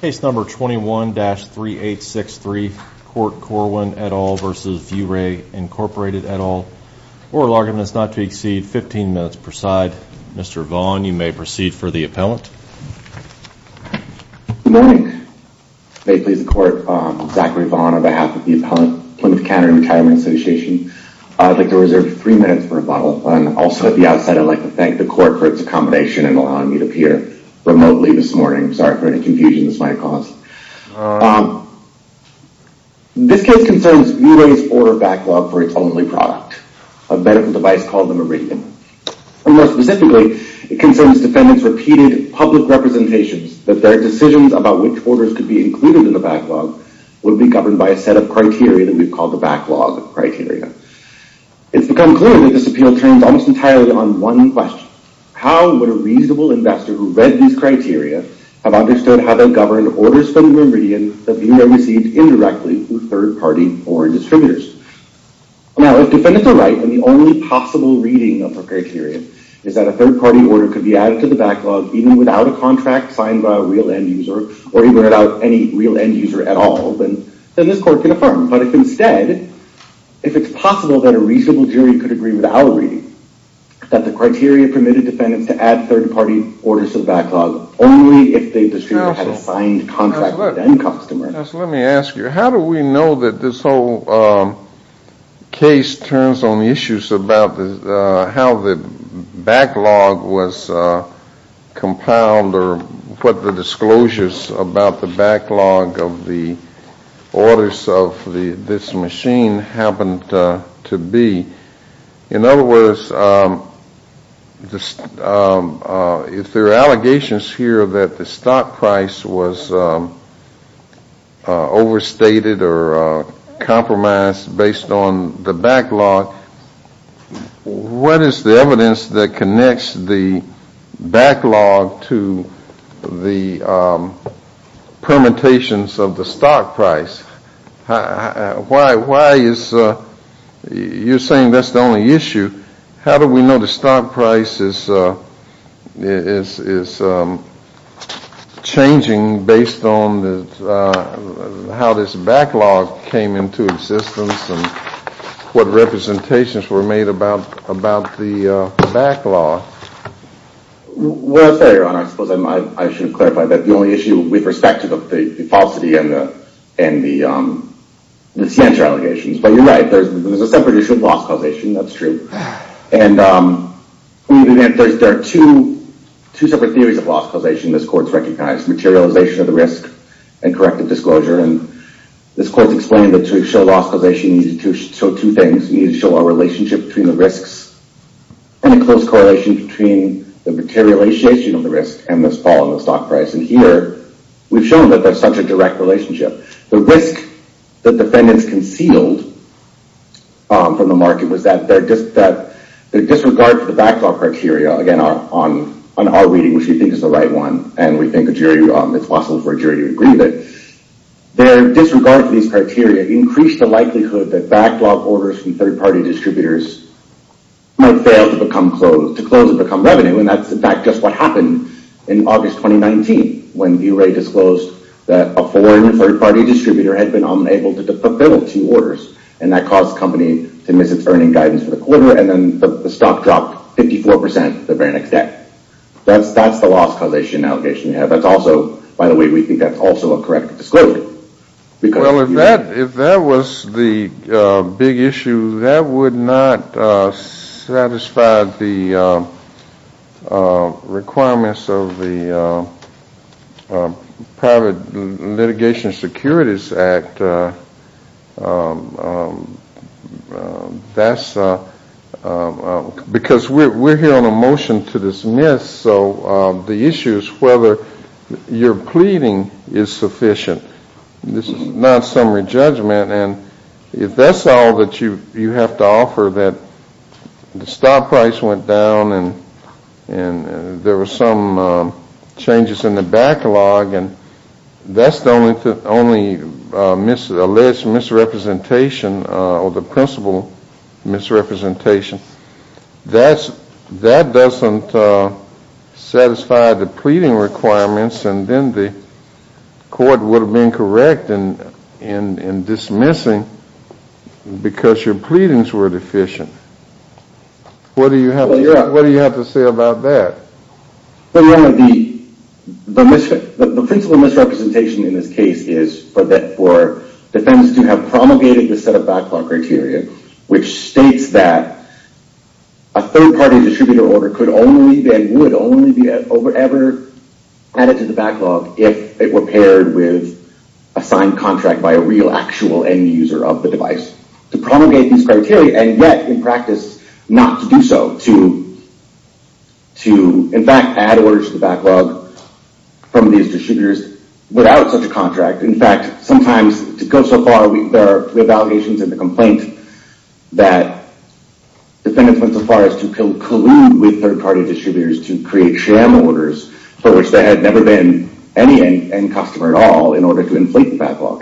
Case number 21-3863, Court Corwin et al. v. ViewRay Inc. et al. Oral argument is not to exceed 15 minutes per side. Mr. Vaughn, you may proceed for the appellant. Good morning. May it please the Court, I'm Zachary Vaughn on behalf of the Appellant, Plymouth County Retirement Association. I'd like to reserve three minutes for rebuttal. Also, at the outset, I'd like to thank the Court for its accommodation in allowing me to appear remotely this morning. Sorry for any confusion this might cause. This case concerns ViewRay's order backlog for its only product, a medical device called the Meridian. More specifically, it concerns defendants' repeated public representations that their decisions about which orders could be included in the backlog would be governed by a set of criteria that we've called the backlog criteria. It's become clear that this appeal turns almost entirely on one question. How would a reasonable investor who read these criteria have understood how to govern orders from Meridian that ViewRay received indirectly from third-party foreign distributors? Now, if defendants are right, and the only possible reading of the criteria is that a third-party order could be added to the backlog even without a contract signed by a real end-user, or even without any real end-user at all, then this Court can affirm. But if instead, if it's possible that a reasonable jury could agree without a reading that the criteria permitted defendants to add third-party orders to the backlog only if they distributed a signed contract with an end-customer. Just let me ask you, how do we know that this whole case turns on issues about how the backlog was compiled or what the disclosures about the backlog of the orders of this machine happened to be? In other words, if there are allegations here that the stock price was overstated or compromised based on the backlog, what is the evidence that connects the backlog to the permutations of the stock price? Why is, you're saying that's the only issue. How do we know the stock price is changing based on how this backlog came into existence and what representations were made about the backlog? Well, I'll tell you, Your Honor. I suppose I should have clarified that the only issue with respect to the falsity and the censure allegations. But you're right. There's a separate issue of loss causation. That's true. And there are two separate theories of loss causation this Court's recognized. Materialization of the risk and corrective disclosure. And this Court's explained that to show loss causation, you need to show two things. You need to show a relationship between the risks and a close correlation between the materialization of the risk and this fall in the stock price. And here, we've shown that there's such a direct relationship. The risk that defendants concealed from the market was that their disregard for the backlog criteria. Again, on our reading, which we think is the right one, and we think it's possible for a jury to agree that their disregard for these criteria increased the likelihood that backlog orders from third-party distributors might fail to close and become revenue. And that's, in fact, just what happened in August 2019 when V-Ray disclosed that a foreign third-party distributor had been unable to fulfill two orders. And that caused the company to miss its earning guidance for the quarter, and then the stock dropped 54% the very next day. That's the loss causation allegation. That's also, by the way, we think that's also a correct disclosure. Well, if that was the big issue, that would not satisfy the requirements of the Private Litigation Securities Act. Because we're hearing a motion to dismiss, so the issue is whether your pleading is sufficient. This is not summary judgment. And if that's all that you have to offer, that the stock price went down and there were some changes in the backlog, and that's the only alleged misrepresentation or the principal misrepresentation. That doesn't satisfy the pleading requirements, and then the court would have been correct in dismissing because your pleadings were deficient. What do you have to say about that? The principal misrepresentation in this case is for defense to have promulgated the set of backlog criteria, which states that a third-party distributor order could only and would only be ever added to the backlog if it were paired with a signed contract by a real actual end user of the device. To promulgate these criteria, and yet, in practice, not to do so. To, in fact, add orders to the backlog from these distributors without such a contract. In fact, sometimes, to go so far, we have allegations in the complaint that defendants went so far as to collude with third-party distributors to create sham orders for which there had never been any end customer at all in order to inflate the backlog.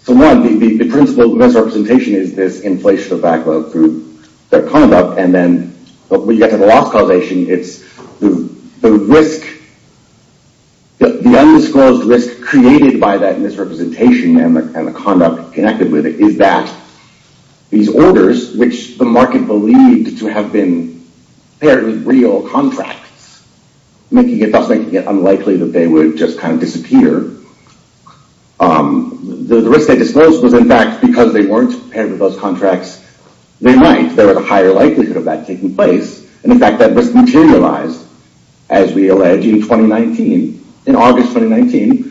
So one, the principal misrepresentation is this inflation of backlog through their conduct, and then when you get to the loss causation, it's the risk, the undisclosed risk created by that misrepresentation and the conduct connected with it is that these orders, which the market believed to have been paired with real contracts, thus making it unlikely that they would just kind of disappear, the risk they disclosed was, in fact, because they weren't paired with those contracts, they might, there was a higher likelihood of that taking place, and, in fact, that risk materialized as we allege in 2019. In August 2019,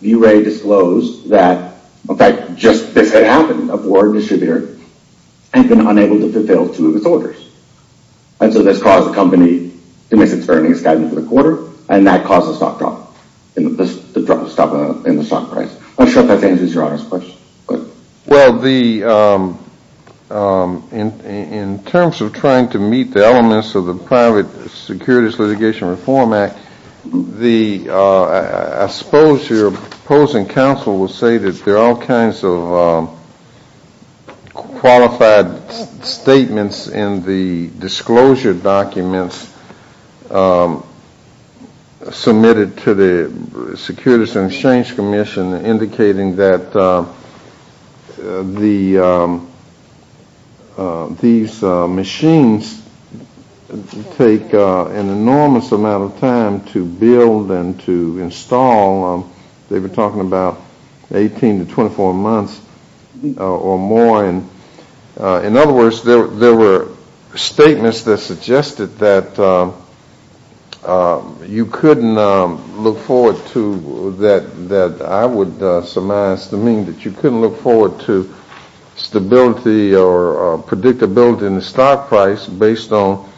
V-Ray disclosed that, in fact, just this had happened, a board distributor had been unable to fulfill two of its orders. And so this caused the company to miss its earnings by the end of the quarter, and that caused a stock drop in the stock price. I'm not sure if that answers your honest question. Well, in terms of trying to meet the elements of the Private Securities Litigation Reform Act, I suppose your opposing counsel would say that there are all kinds of qualified statements in the disclosure documents submitted to the Securities and Exchange Commission indicating that these machines take an enormous amount of time to build and to install. They were talking about 18 to 24 months or more. In other words, there were statements that suggested that you couldn't look forward to, that I would surmise to mean that you couldn't look forward to stability or predictability in the stock price based on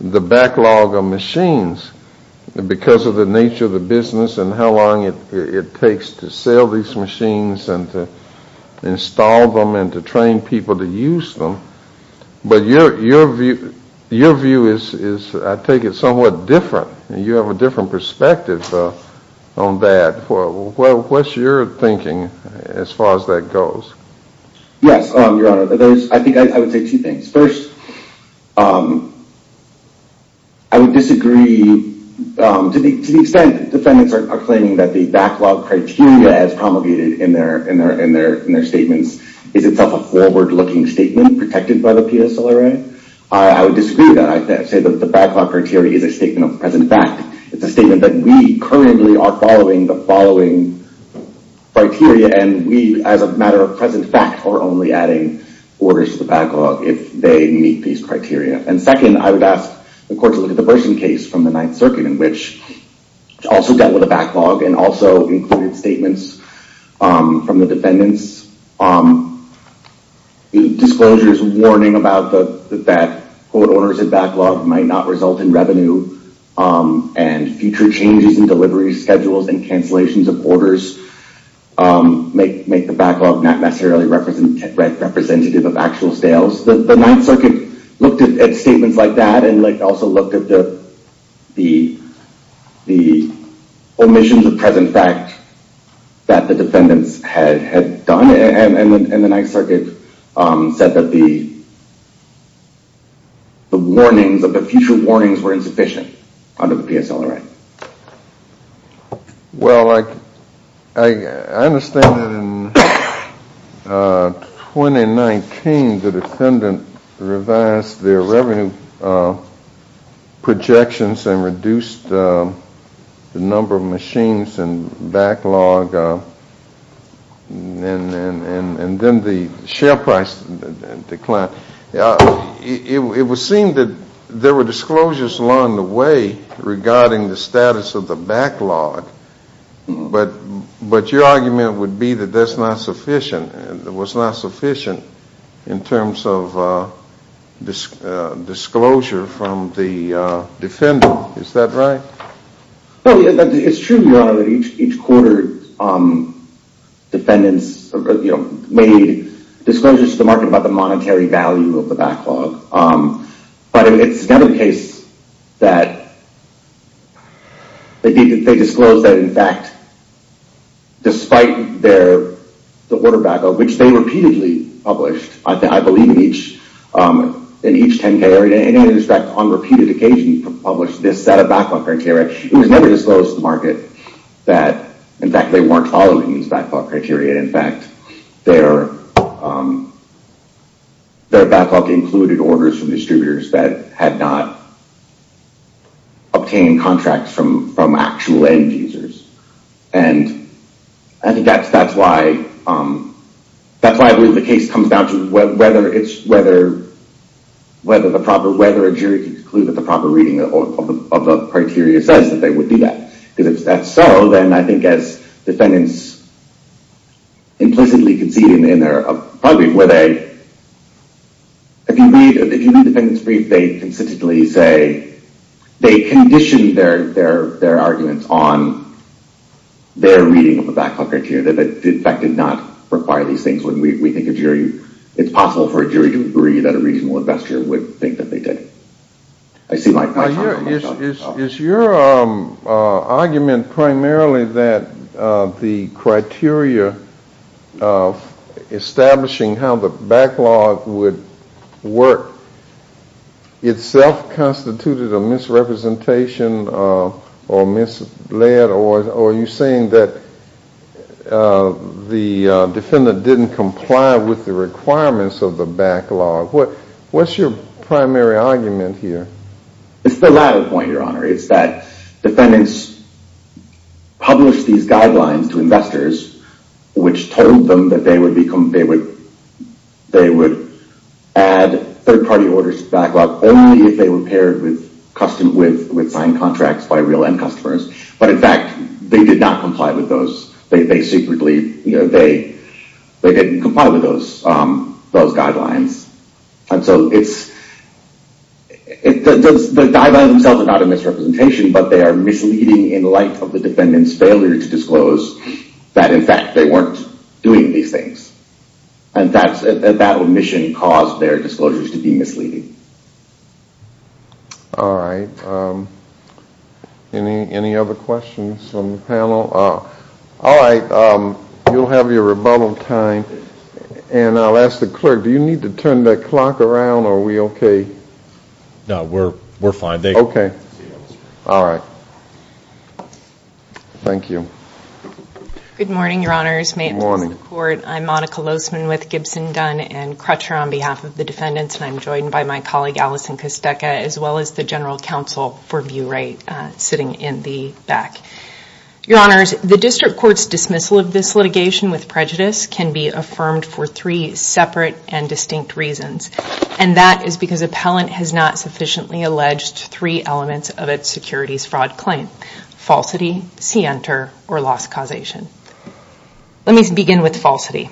the backlog of machines because of the nature of the business and how long it takes to sell these machines and to install them and to train people to use them. But your view is, I take it, somewhat different. You have a different perspective on that. What's your thinking as far as that goes? Yes, Your Honor, I think I would say two things. First, I would disagree to the extent that defendants are claiming that the backlog criteria as promulgated in their statements is itself a forward-looking statement protected by the PSLRA. I would disagree with that. I say that the backlog criteria is a statement of present fact. It's a statement that we currently are following the following criteria and we, as a matter of present fact, are only adding orders to the backlog if they meet these criteria. And second, I would ask the court to look at the Burson case from the Ninth Circuit, which also dealt with a backlog and also included statements from the defendants. Disclosures warning about that quote, might not result in revenue and future changes in delivery schedules and cancellations of orders make the backlog not necessarily representative of actual sales. The Ninth Circuit looked at statements like that and also looked at the omissions of present fact that the defendants had done. And the Ninth Circuit said that the future warnings were insufficient under the PSLRA. Well, I understand that in 2019 the defendant revised their revenue projections and reduced the number of machines and backlog and then the share price declined. It was seen that there were disclosures along the way regarding the status of the backlog, but your argument would be that that was not sufficient in terms of disclosure from the defendant. Is that right? It's true, Your Honor, that each quarter defendants made disclosures to the market about the monetary value of the backlog. But it's another case that they disclosed that, in fact, despite the order back up, which they repeatedly published, I believe in each 10-K area, in any respect on repeated occasion published this set of backlog criteria, it was never disclosed to the market that, in fact, they weren't following these backlog criteria. In fact, their backlog included orders from distributors that had not obtained contracts from actual end users. And I think that's why I believe the case comes down to whether a jury can conclude that the proper reading of the criteria says that they would do that. Because if that's so, then I think as defendants implicitly concede in their, probably where they, if you read the defendant's brief, they consistently say they condition their arguments on their reading of the backlog criteria that, in fact, did not require these things when we think it's possible for a jury to agree that a reasonable investor would think that they did. Is your argument primarily that the criteria of establishing how the backlog would work itself constituted a misrepresentation or misled, or are you saying that the defendant didn't comply with the requirements of the backlog? What's your primary argument here? It's the latter point, Your Honor. It's that defendants published these guidelines to investors, which told them that they would add third-party orders to the backlog only if they were paired with signed contracts by real end customers. But, in fact, they did not comply with those. They secretly, you know, they didn't comply with those guidelines. And so it's, the guidelines themselves are not a misrepresentation, but they are misleading in light of the defendant's failure to disclose that, in fact, they weren't doing these things. And that omission caused their disclosures to be misleading. All right. Any other questions from the panel? All right. You'll have your rebuttal time, and I'll ask the clerk, do you need to turn the clock around, or are we okay? No, we're fine. Okay. All right. Thank you. Good morning, Your Honors. May it please the Court. I'm Monica Lozman with Gibson, Dunn & Crutcher on behalf of the defendants, and I'm joined by my colleague, Allison Costeca, as well as the general counsel for Bure sitting in the back. Your Honors, the district court's dismissal of this litigation with prejudice can be affirmed for three separate and distinct reasons, and that is because appellant has not sufficiently alleged three elements of its securities fraud claim, falsity, see-enter, or loss causation. Let me begin with falsity.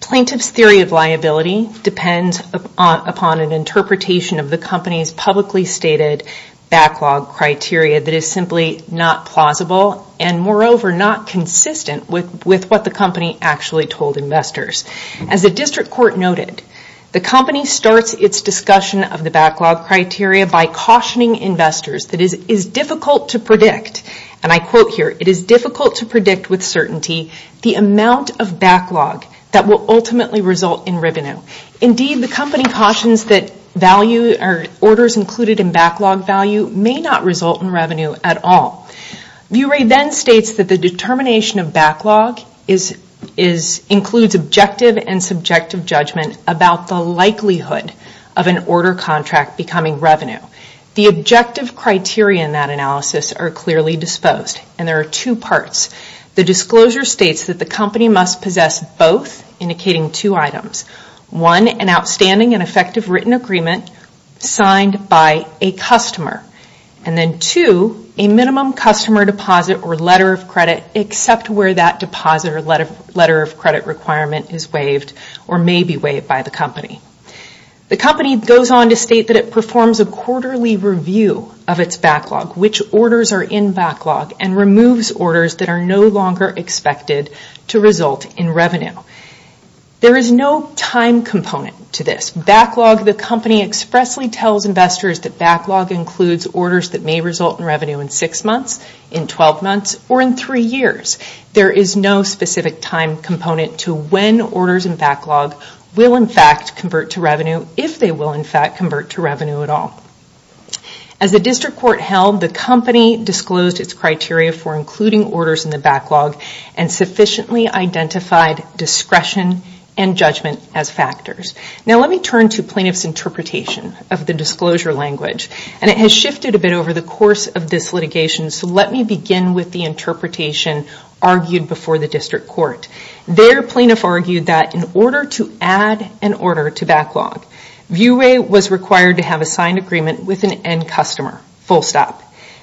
Plaintiff's theory of liability depends upon an interpretation of the company's publicly stated backlog criteria that is simply not plausible and, moreover, not consistent with what the company actually told investors. As the district court noted, the company starts its discussion of the backlog criteria by cautioning investors that it is difficult to predict, and I quote here, that will ultimately result in revenue. Indeed, the company cautions that orders included in backlog value may not result in revenue at all. Bure then states that the determination of backlog includes objective and subjective judgment about the likelihood of an order contract becoming revenue. The objective criteria in that analysis are clearly disposed, and there are two parts. The disclosure states that the company must possess both, indicating two items. One, an outstanding and effective written agreement signed by a customer, and then two, a minimum customer deposit or letter of credit except where that deposit or letter of credit requirement is waived or may be waived by the company. The company goes on to state that it performs a quarterly review of its backlog, which orders are in backlog, and removes orders that are no longer expected to result in revenue. There is no time component to this. Backlog, the company expressly tells investors that backlog includes orders that may result in revenue in six months, in 12 months, or in three years. There is no specific time component to when orders in backlog will in fact convert to revenue, if they will in fact convert to revenue at all. As the district court held, the company disclosed its criteria for including orders in the backlog and sufficiently identified discretion and judgment as factors. Now let me turn to plaintiff's interpretation of the disclosure language, and it has shifted a bit over the course of this litigation, so let me begin with the interpretation argued before the district court. Viewway was required to have a signed agreement with an end customer, full stop.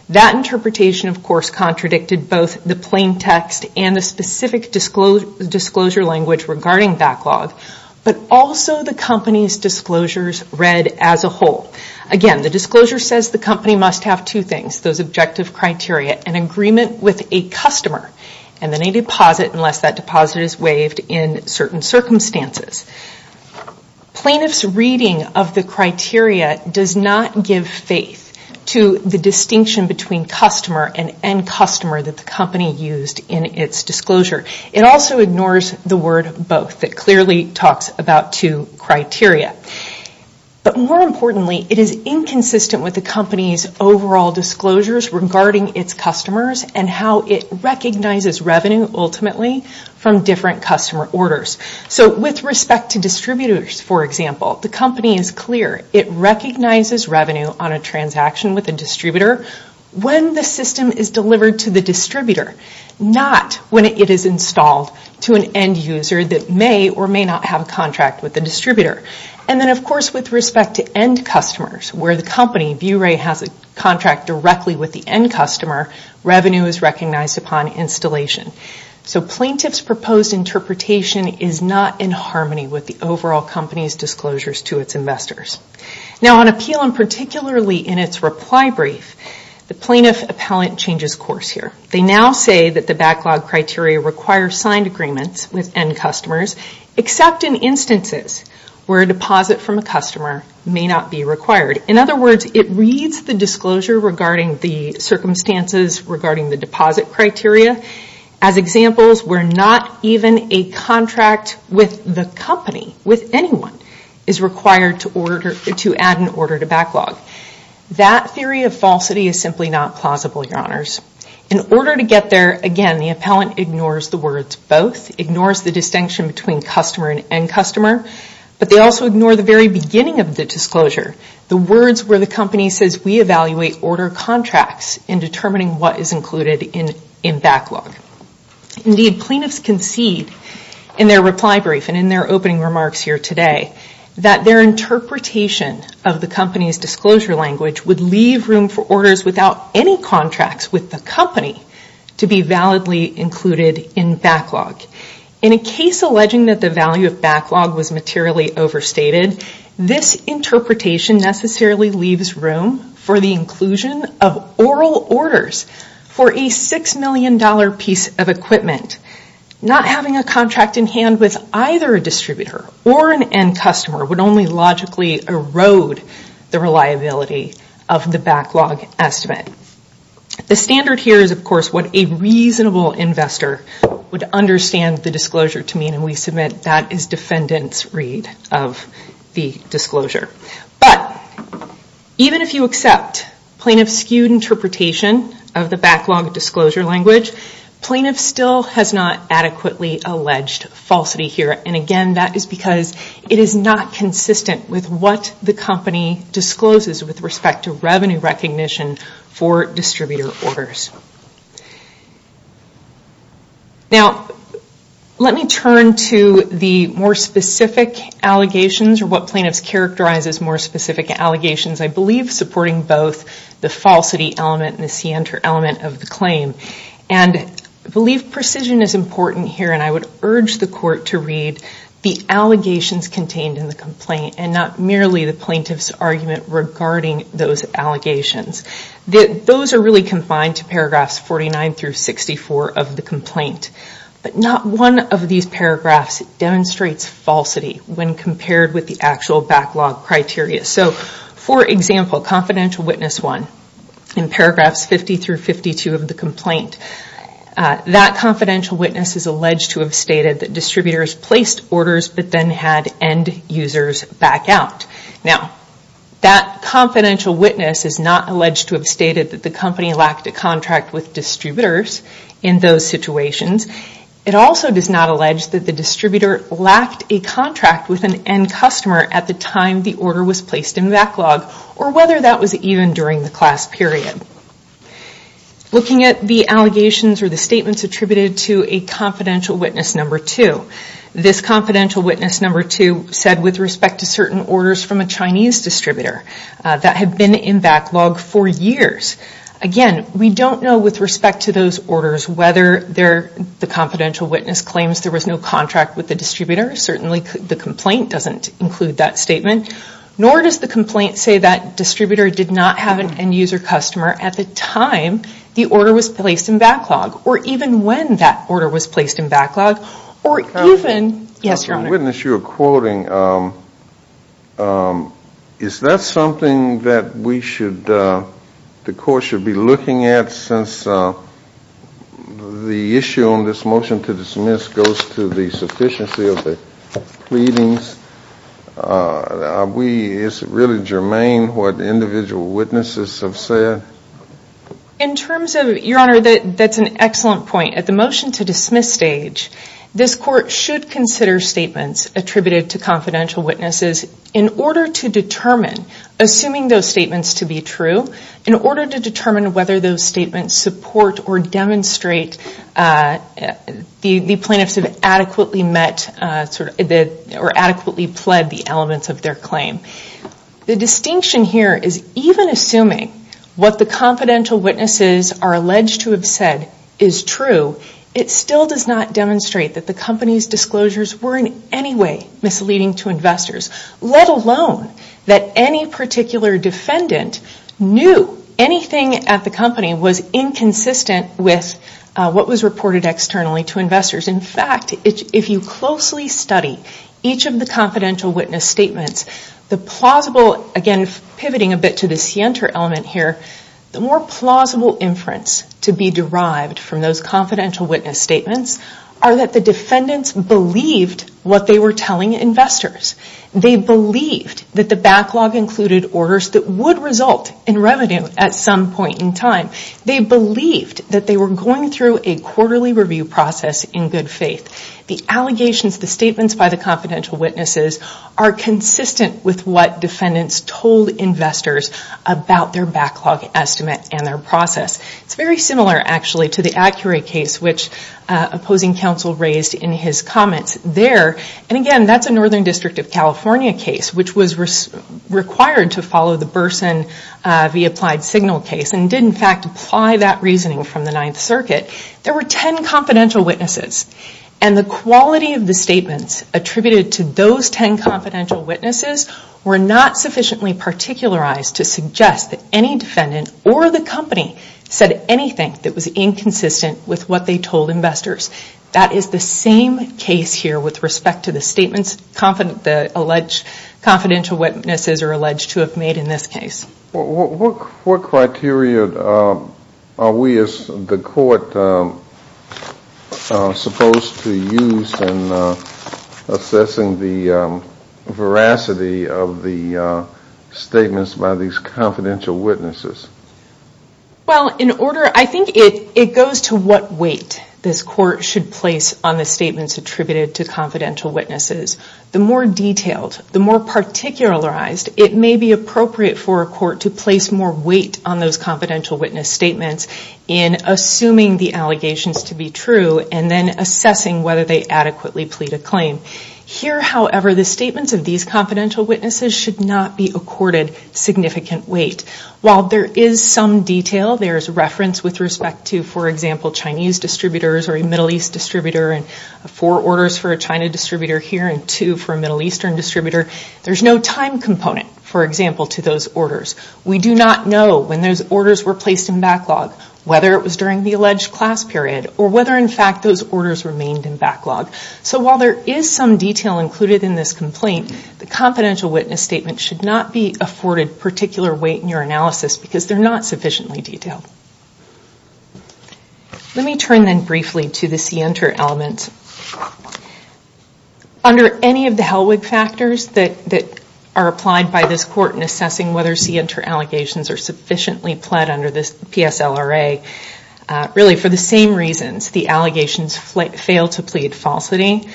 That interpretation, of course, contradicted both the plain text and the specific disclosure language regarding backlog, but also the company's disclosures read as a whole. Again, the disclosure says the company must have two things, those objective criteria, an agreement with a customer, and then a deposit unless that deposit is waived in certain circumstances. Plaintiff's reading of the criteria does not give faith to the distinction between customer and end customer that the company used in its disclosure. It also ignores the word both. It clearly talks about two criteria. But more importantly, it is inconsistent with the company's overall disclosures regarding its customers and how it recognizes revenue, ultimately, from different customer orders. So with respect to distributors, for example, the company is clear. It recognizes revenue on a transaction with a distributor when the system is delivered to the distributor, not when it is installed to an end user that may or may not have a contract with the distributor. And then, of course, with respect to end customers, where the company, Viewway, has a contract directly with the end customer, revenue is recognized upon installation. So plaintiff's proposed interpretation is not in harmony with the overall company's disclosures to its investors. Now on appeal, and particularly in its reply brief, the plaintiff appellant changes course here. They now say that the backlog criteria requires signed agreements with end customers, except in instances where a deposit from a customer may not be required. In other words, it reads the disclosure regarding the circumstances regarding the deposit criteria. As examples, where not even a contract with the company, with anyone, is required to add an order to backlog. That theory of falsity is simply not plausible, Your Honors. In order to get there, again, the appellant ignores the words both, ignores the distinction between customer and end customer, but they also ignore the very beginning of the disclosure, the words where the company says, we evaluate order contracts in determining what is included in backlog. Indeed, plaintiffs concede in their reply brief and in their opening remarks here today, that their interpretation of the company's disclosure language would leave room for orders without any contracts with the company to be validly included in backlog. In a case alleging that the value of backlog was materially overstated, this interpretation necessarily leaves room for the inclusion of oral orders for a $6 million piece of equipment. Not having a contract in hand with either a distributor or an end customer would only logically erode the reliability of the backlog estimate. The standard here is, of course, what a reasonable investor would understand the disclosure to mean, and we submit that as defendant's read of the disclosure. But even if you accept plaintiff's skewed interpretation of the backlog disclosure language, plaintiff still has not adequately alleged falsity here. Again, that is because it is not consistent with what the company discloses with respect to revenue recognition for distributor orders. Now, let me turn to the more specific allegations or what plaintiffs characterize as more specific allegations, I believe supporting both the falsity element and the scienter element of the claim. I believe precision is important here, and I would urge the court to read the allegations contained in the complaint and not merely the plaintiff's argument regarding those allegations. Those are really confined to paragraphs 49 through 64 of the complaint, but not one of these paragraphs demonstrates falsity when compared with the actual backlog criteria. For example, Confidential Witness 1 in paragraphs 50 through 52 of the complaint, that confidential witness is alleged to have stated that distributors placed orders but then had end users back out. Now, that confidential witness is not alleged to have stated that the company lacked a contract with distributors in those situations. It also does not allege that the distributor lacked a contract with an end customer at the time the order was placed in backlog, or whether that was even during the class period. Looking at the allegations or the statements attributed to a Confidential Witness 2, this Confidential Witness 2 said with respect to certain orders from a Chinese distributor that had been in backlog for years. Again, we don't know with respect to those orders whether the Confidential Witness claims there was no contract with the distributor. Certainly, the complaint doesn't include that statement, nor does the complaint say that distributor did not have an end user customer at the time the order was placed in backlog, or even when that order was placed in backlog, or even... Yes, Your Honor. The witness you are quoting, is that something that we should... the court should be looking at since the issue on this motion to dismiss goes to the sufficiency of the pleadings? Is it really germane what individual witnesses have said? In terms of... Your Honor, that's an excellent point. At the motion to dismiss stage, this court should consider statements attributed to confidential witnesses in order to determine... Assuming those statements to be true, in order to determine whether those statements support or demonstrate the plaintiffs have adequately met or adequately pled the elements of their claim. The distinction here is even assuming what the confidential witnesses are alleged to have said is true, it still does not demonstrate that the company's disclosures were in any way misleading to investors. Let alone that any particular defendant knew anything at the company was inconsistent with what was reported externally to investors. In fact, if you closely study each of the confidential witness statements, the plausible... Again, pivoting a bit to the scienter element here, the more plausible inference to be derived from those confidential witness statements are that the defendants believed what they were telling investors. They believed that the backlog included orders that would result in revenue at some point in time. They believed that they were going through a quarterly review process in good faith. The allegations, the statements by the confidential witnesses are consistent with what defendants told investors about their backlog estimate and their process. It's very similar, actually, to the Accurate case which opposing counsel raised in his comments there. And again, that's a Northern District of California case which was required to follow the Burson v. Applied Signal case and did in fact apply that reasoning from the Ninth Circuit. There were 10 confidential witnesses and the quality of the statements attributed to those 10 confidential witnesses were not sufficiently particularized to suggest that any defendant or the company said anything that was inconsistent with what they told investors. That is the same case here with respect to the statements the alleged confidential witnesses are alleged to have made in this case. What criteria are we as the court supposed to use in assessing the veracity of the statements by these confidential witnesses? Well, I think it goes to what weight this court should place on the statements attributed to confidential witnesses. The more detailed, the more particularized, it may be appropriate for a court to place more weight on those confidential witness statements in assuming the allegations to be true and then assessing whether they adequately plead a claim. Here, however, the statements of these confidential witnesses should not be accorded significant weight. While there is some detail, there is reference with respect to for example, Chinese distributors or a Middle East distributor and four orders for a China distributor here and two for a Middle Eastern distributor, there is no time component, for example, to those orders. We do not know when those orders were placed in backlog, whether it was during the alleged class period or whether, in fact, those orders remained in backlog. So while there is some detail included in this complaint, the confidential witness statement should not be afforded particular weight in your analysis because they're not sufficiently detailed. Let me turn then briefly to the CNTER element. Under any of the Hellwig factors that are applied by this court in assessing whether CNTER allegations are sufficiently pled under this PSLRA, really for the same reasons, the allegations fail to plead falsity.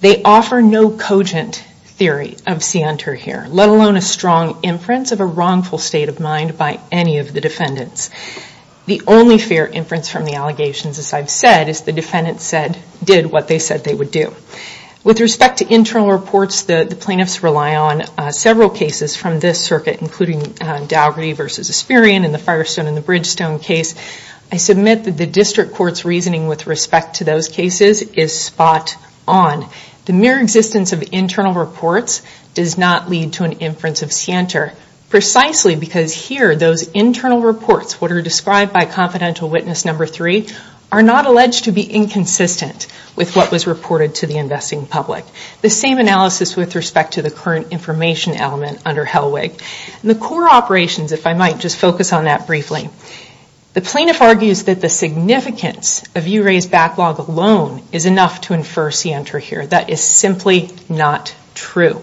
They offer no cogent theory of CNTER here, let alone a strong inference of a wrongful state of mind by any of the defendants. The only fair inference from the allegations, as I've said, is the defendants did what they said they would do. With respect to internal reports, the plaintiffs rely on several cases from this circuit, including Daugherty v. Asperian in the Firestone v. Bridgestone case. I submit that the district court's reasoning with respect to those cases is spot on. The mere existence of internal reports does not lead to an inference of CNTER, precisely because here those internal reports, what are described by confidential witness number three, are not alleged to be inconsistent with what was reported to the investing public. The same analysis with respect to the current information element under Hellwig. The core operations, if I might, just focus on that briefly. The plaintiff argues that the significance of Euray's backlog alone is enough to infer CNTER here. That is simply not true.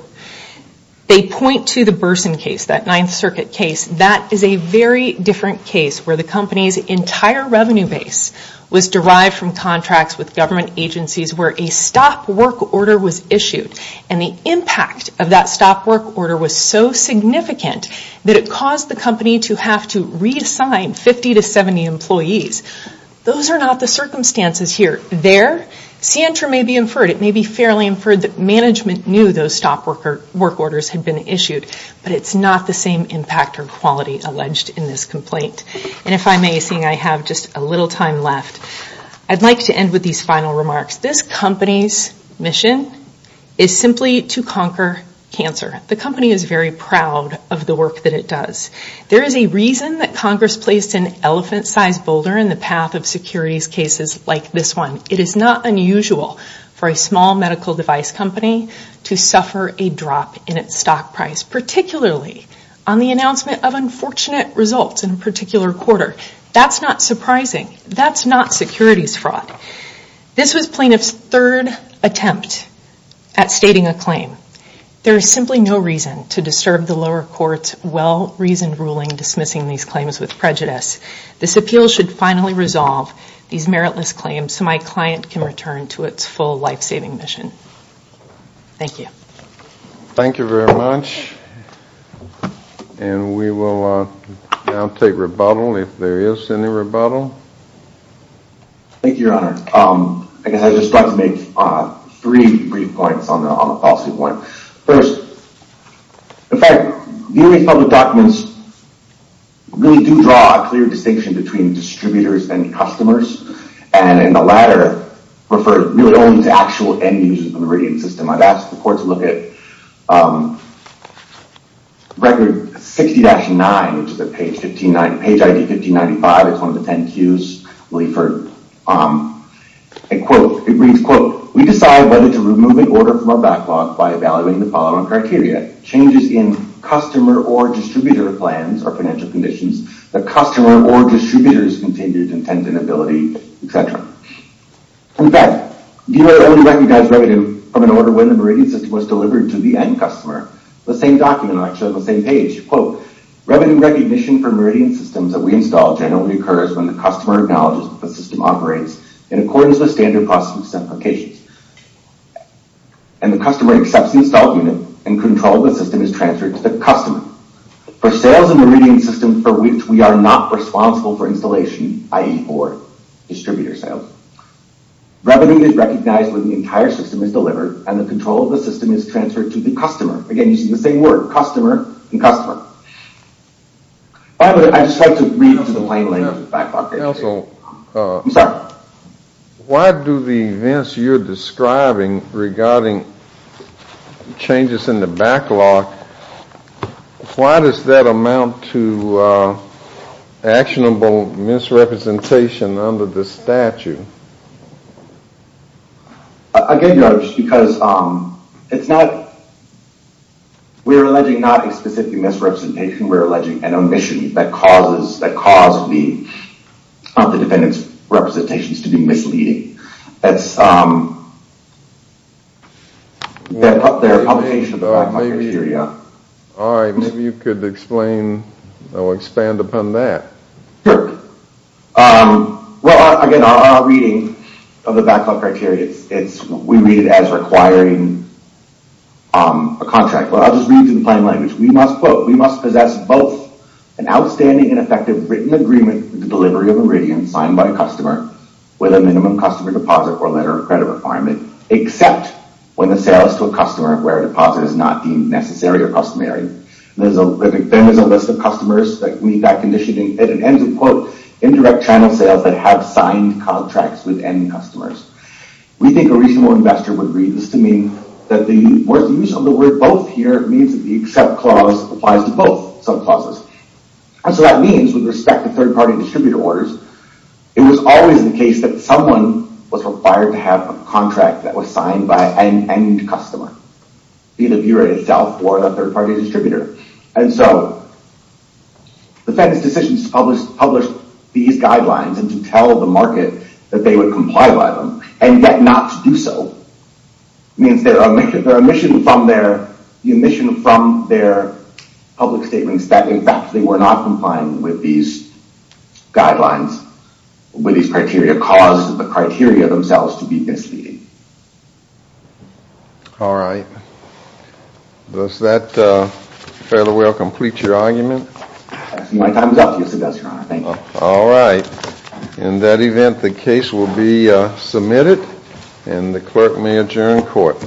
They point to the Burson case, that Ninth Circuit case. That is a very different case where the company's entire revenue base was derived from contracts with government agencies where a stop work order was issued. And the impact of that stop work order was so significant that it caused the company to have to reassign 50 to 70 employees. Those are not the circumstances here. There, CNTER may be inferred. It may be fairly inferred that management knew those stop work orders had been issued. But it's not the same impact or quality alleged in this complaint. And if I may, seeing I have just a little time left, I'd like to end with these final remarks. This company's mission is simply to conquer cancer. The company is very proud of the work that it does. There is a reason that Congress placed an elephant-sized boulder in the path of securities cases like this one. It is not unusual for a small medical device company to suffer a drop in its stock price, particularly on the announcement of unfortunate results in a particular quarter. That's not surprising. That's not securities fraud. This was plaintiff's third attempt at stating a claim. There is simply no reason to disturb the lower court's well-reasoned ruling dismissing these claims with prejudice. This appeal should finally resolve these meritless claims so my client can return to its full life-saving mission. Thank you. Thank you very much. And we will now take rebuttal if there is any rebuttal. Thank you, Your Honor. I guess I just want to make three brief points on the policy point. First, in fact, the U.S. public documents really do draw a clear distinction between distributors and customers. And in the latter, refer really only to actual end-users of the meridian system. I've asked the court to look at Record 60-9, which is at page 1595. It's one of the 10 Qs. It reads, quote, We decide whether to remove an order from our backlog by evaluating the following criteria. Changes in customer or distributor plans or financial conditions, the customer or distributor's continued intent and ability, etc. In fact, the U.S. only recognizes revenue from an order when the meridian system was delivered to the end-customer. The same document, actually, on the same page, quote, Revenue recognition for meridian systems that we install generally occurs when the customer acknowledges that the system operates in accordance with standard process implications. And the customer accepts the installed unit and control of the system is transferred to the customer. For sales of meridian systems for which we are not responsible for installation, i.e., for distributor sales. Revenue is recognized when the entire system is delivered and the control of the system is transferred to the customer. Again, using the same word, customer and customer. By the way, I'd just like to read to the plain language of the backlog. Why do the events you're describing regarding changes in the backlog, why does that amount to actionable misrepresentation under the statute? Again, Judge, because it's not, we're alleging not a specific misrepresentation, we're alleging an omission that caused the defendant's representations to be misleading. That's their publication of the backlog criteria. Alright, maybe you could explain or expand upon that. Well, again, our reading of the backlog criteria, we read it as requiring a contract. I'll just read it in plain language. We must possess both an outstanding and effective written agreement with the delivery of a meridian signed by a customer with a minimum customer deposit or letter of credit requirement except when the sale is to a customer where a deposit is not deemed necessary or customary. Then there's a list of customers that meet that condition and it ends with, quote, indirect channel sales that have signed contracts with any customers. We think a reasonable investor would read this to mean that the use of the word both here means that the accept clause applies to both sub-clauses. And so that means, with respect to third-party distributor orders, it was always the case that someone was required to have a contract that was signed by an end customer, be the bureau itself or the third-party distributor. And so the Fed's decision to publish these guidelines and to tell the market that they would comply by them and yet not to do so means the omission from their public statements that, in fact, they were not complying with these guidelines with these criteria caused the criteria themselves to be misleading. All right. Does that fairly well complete your argument? My time is up. Yes, it does, Your Honor. Thank you. All right. In that event, the case will be submitted and the clerk may adjourn court.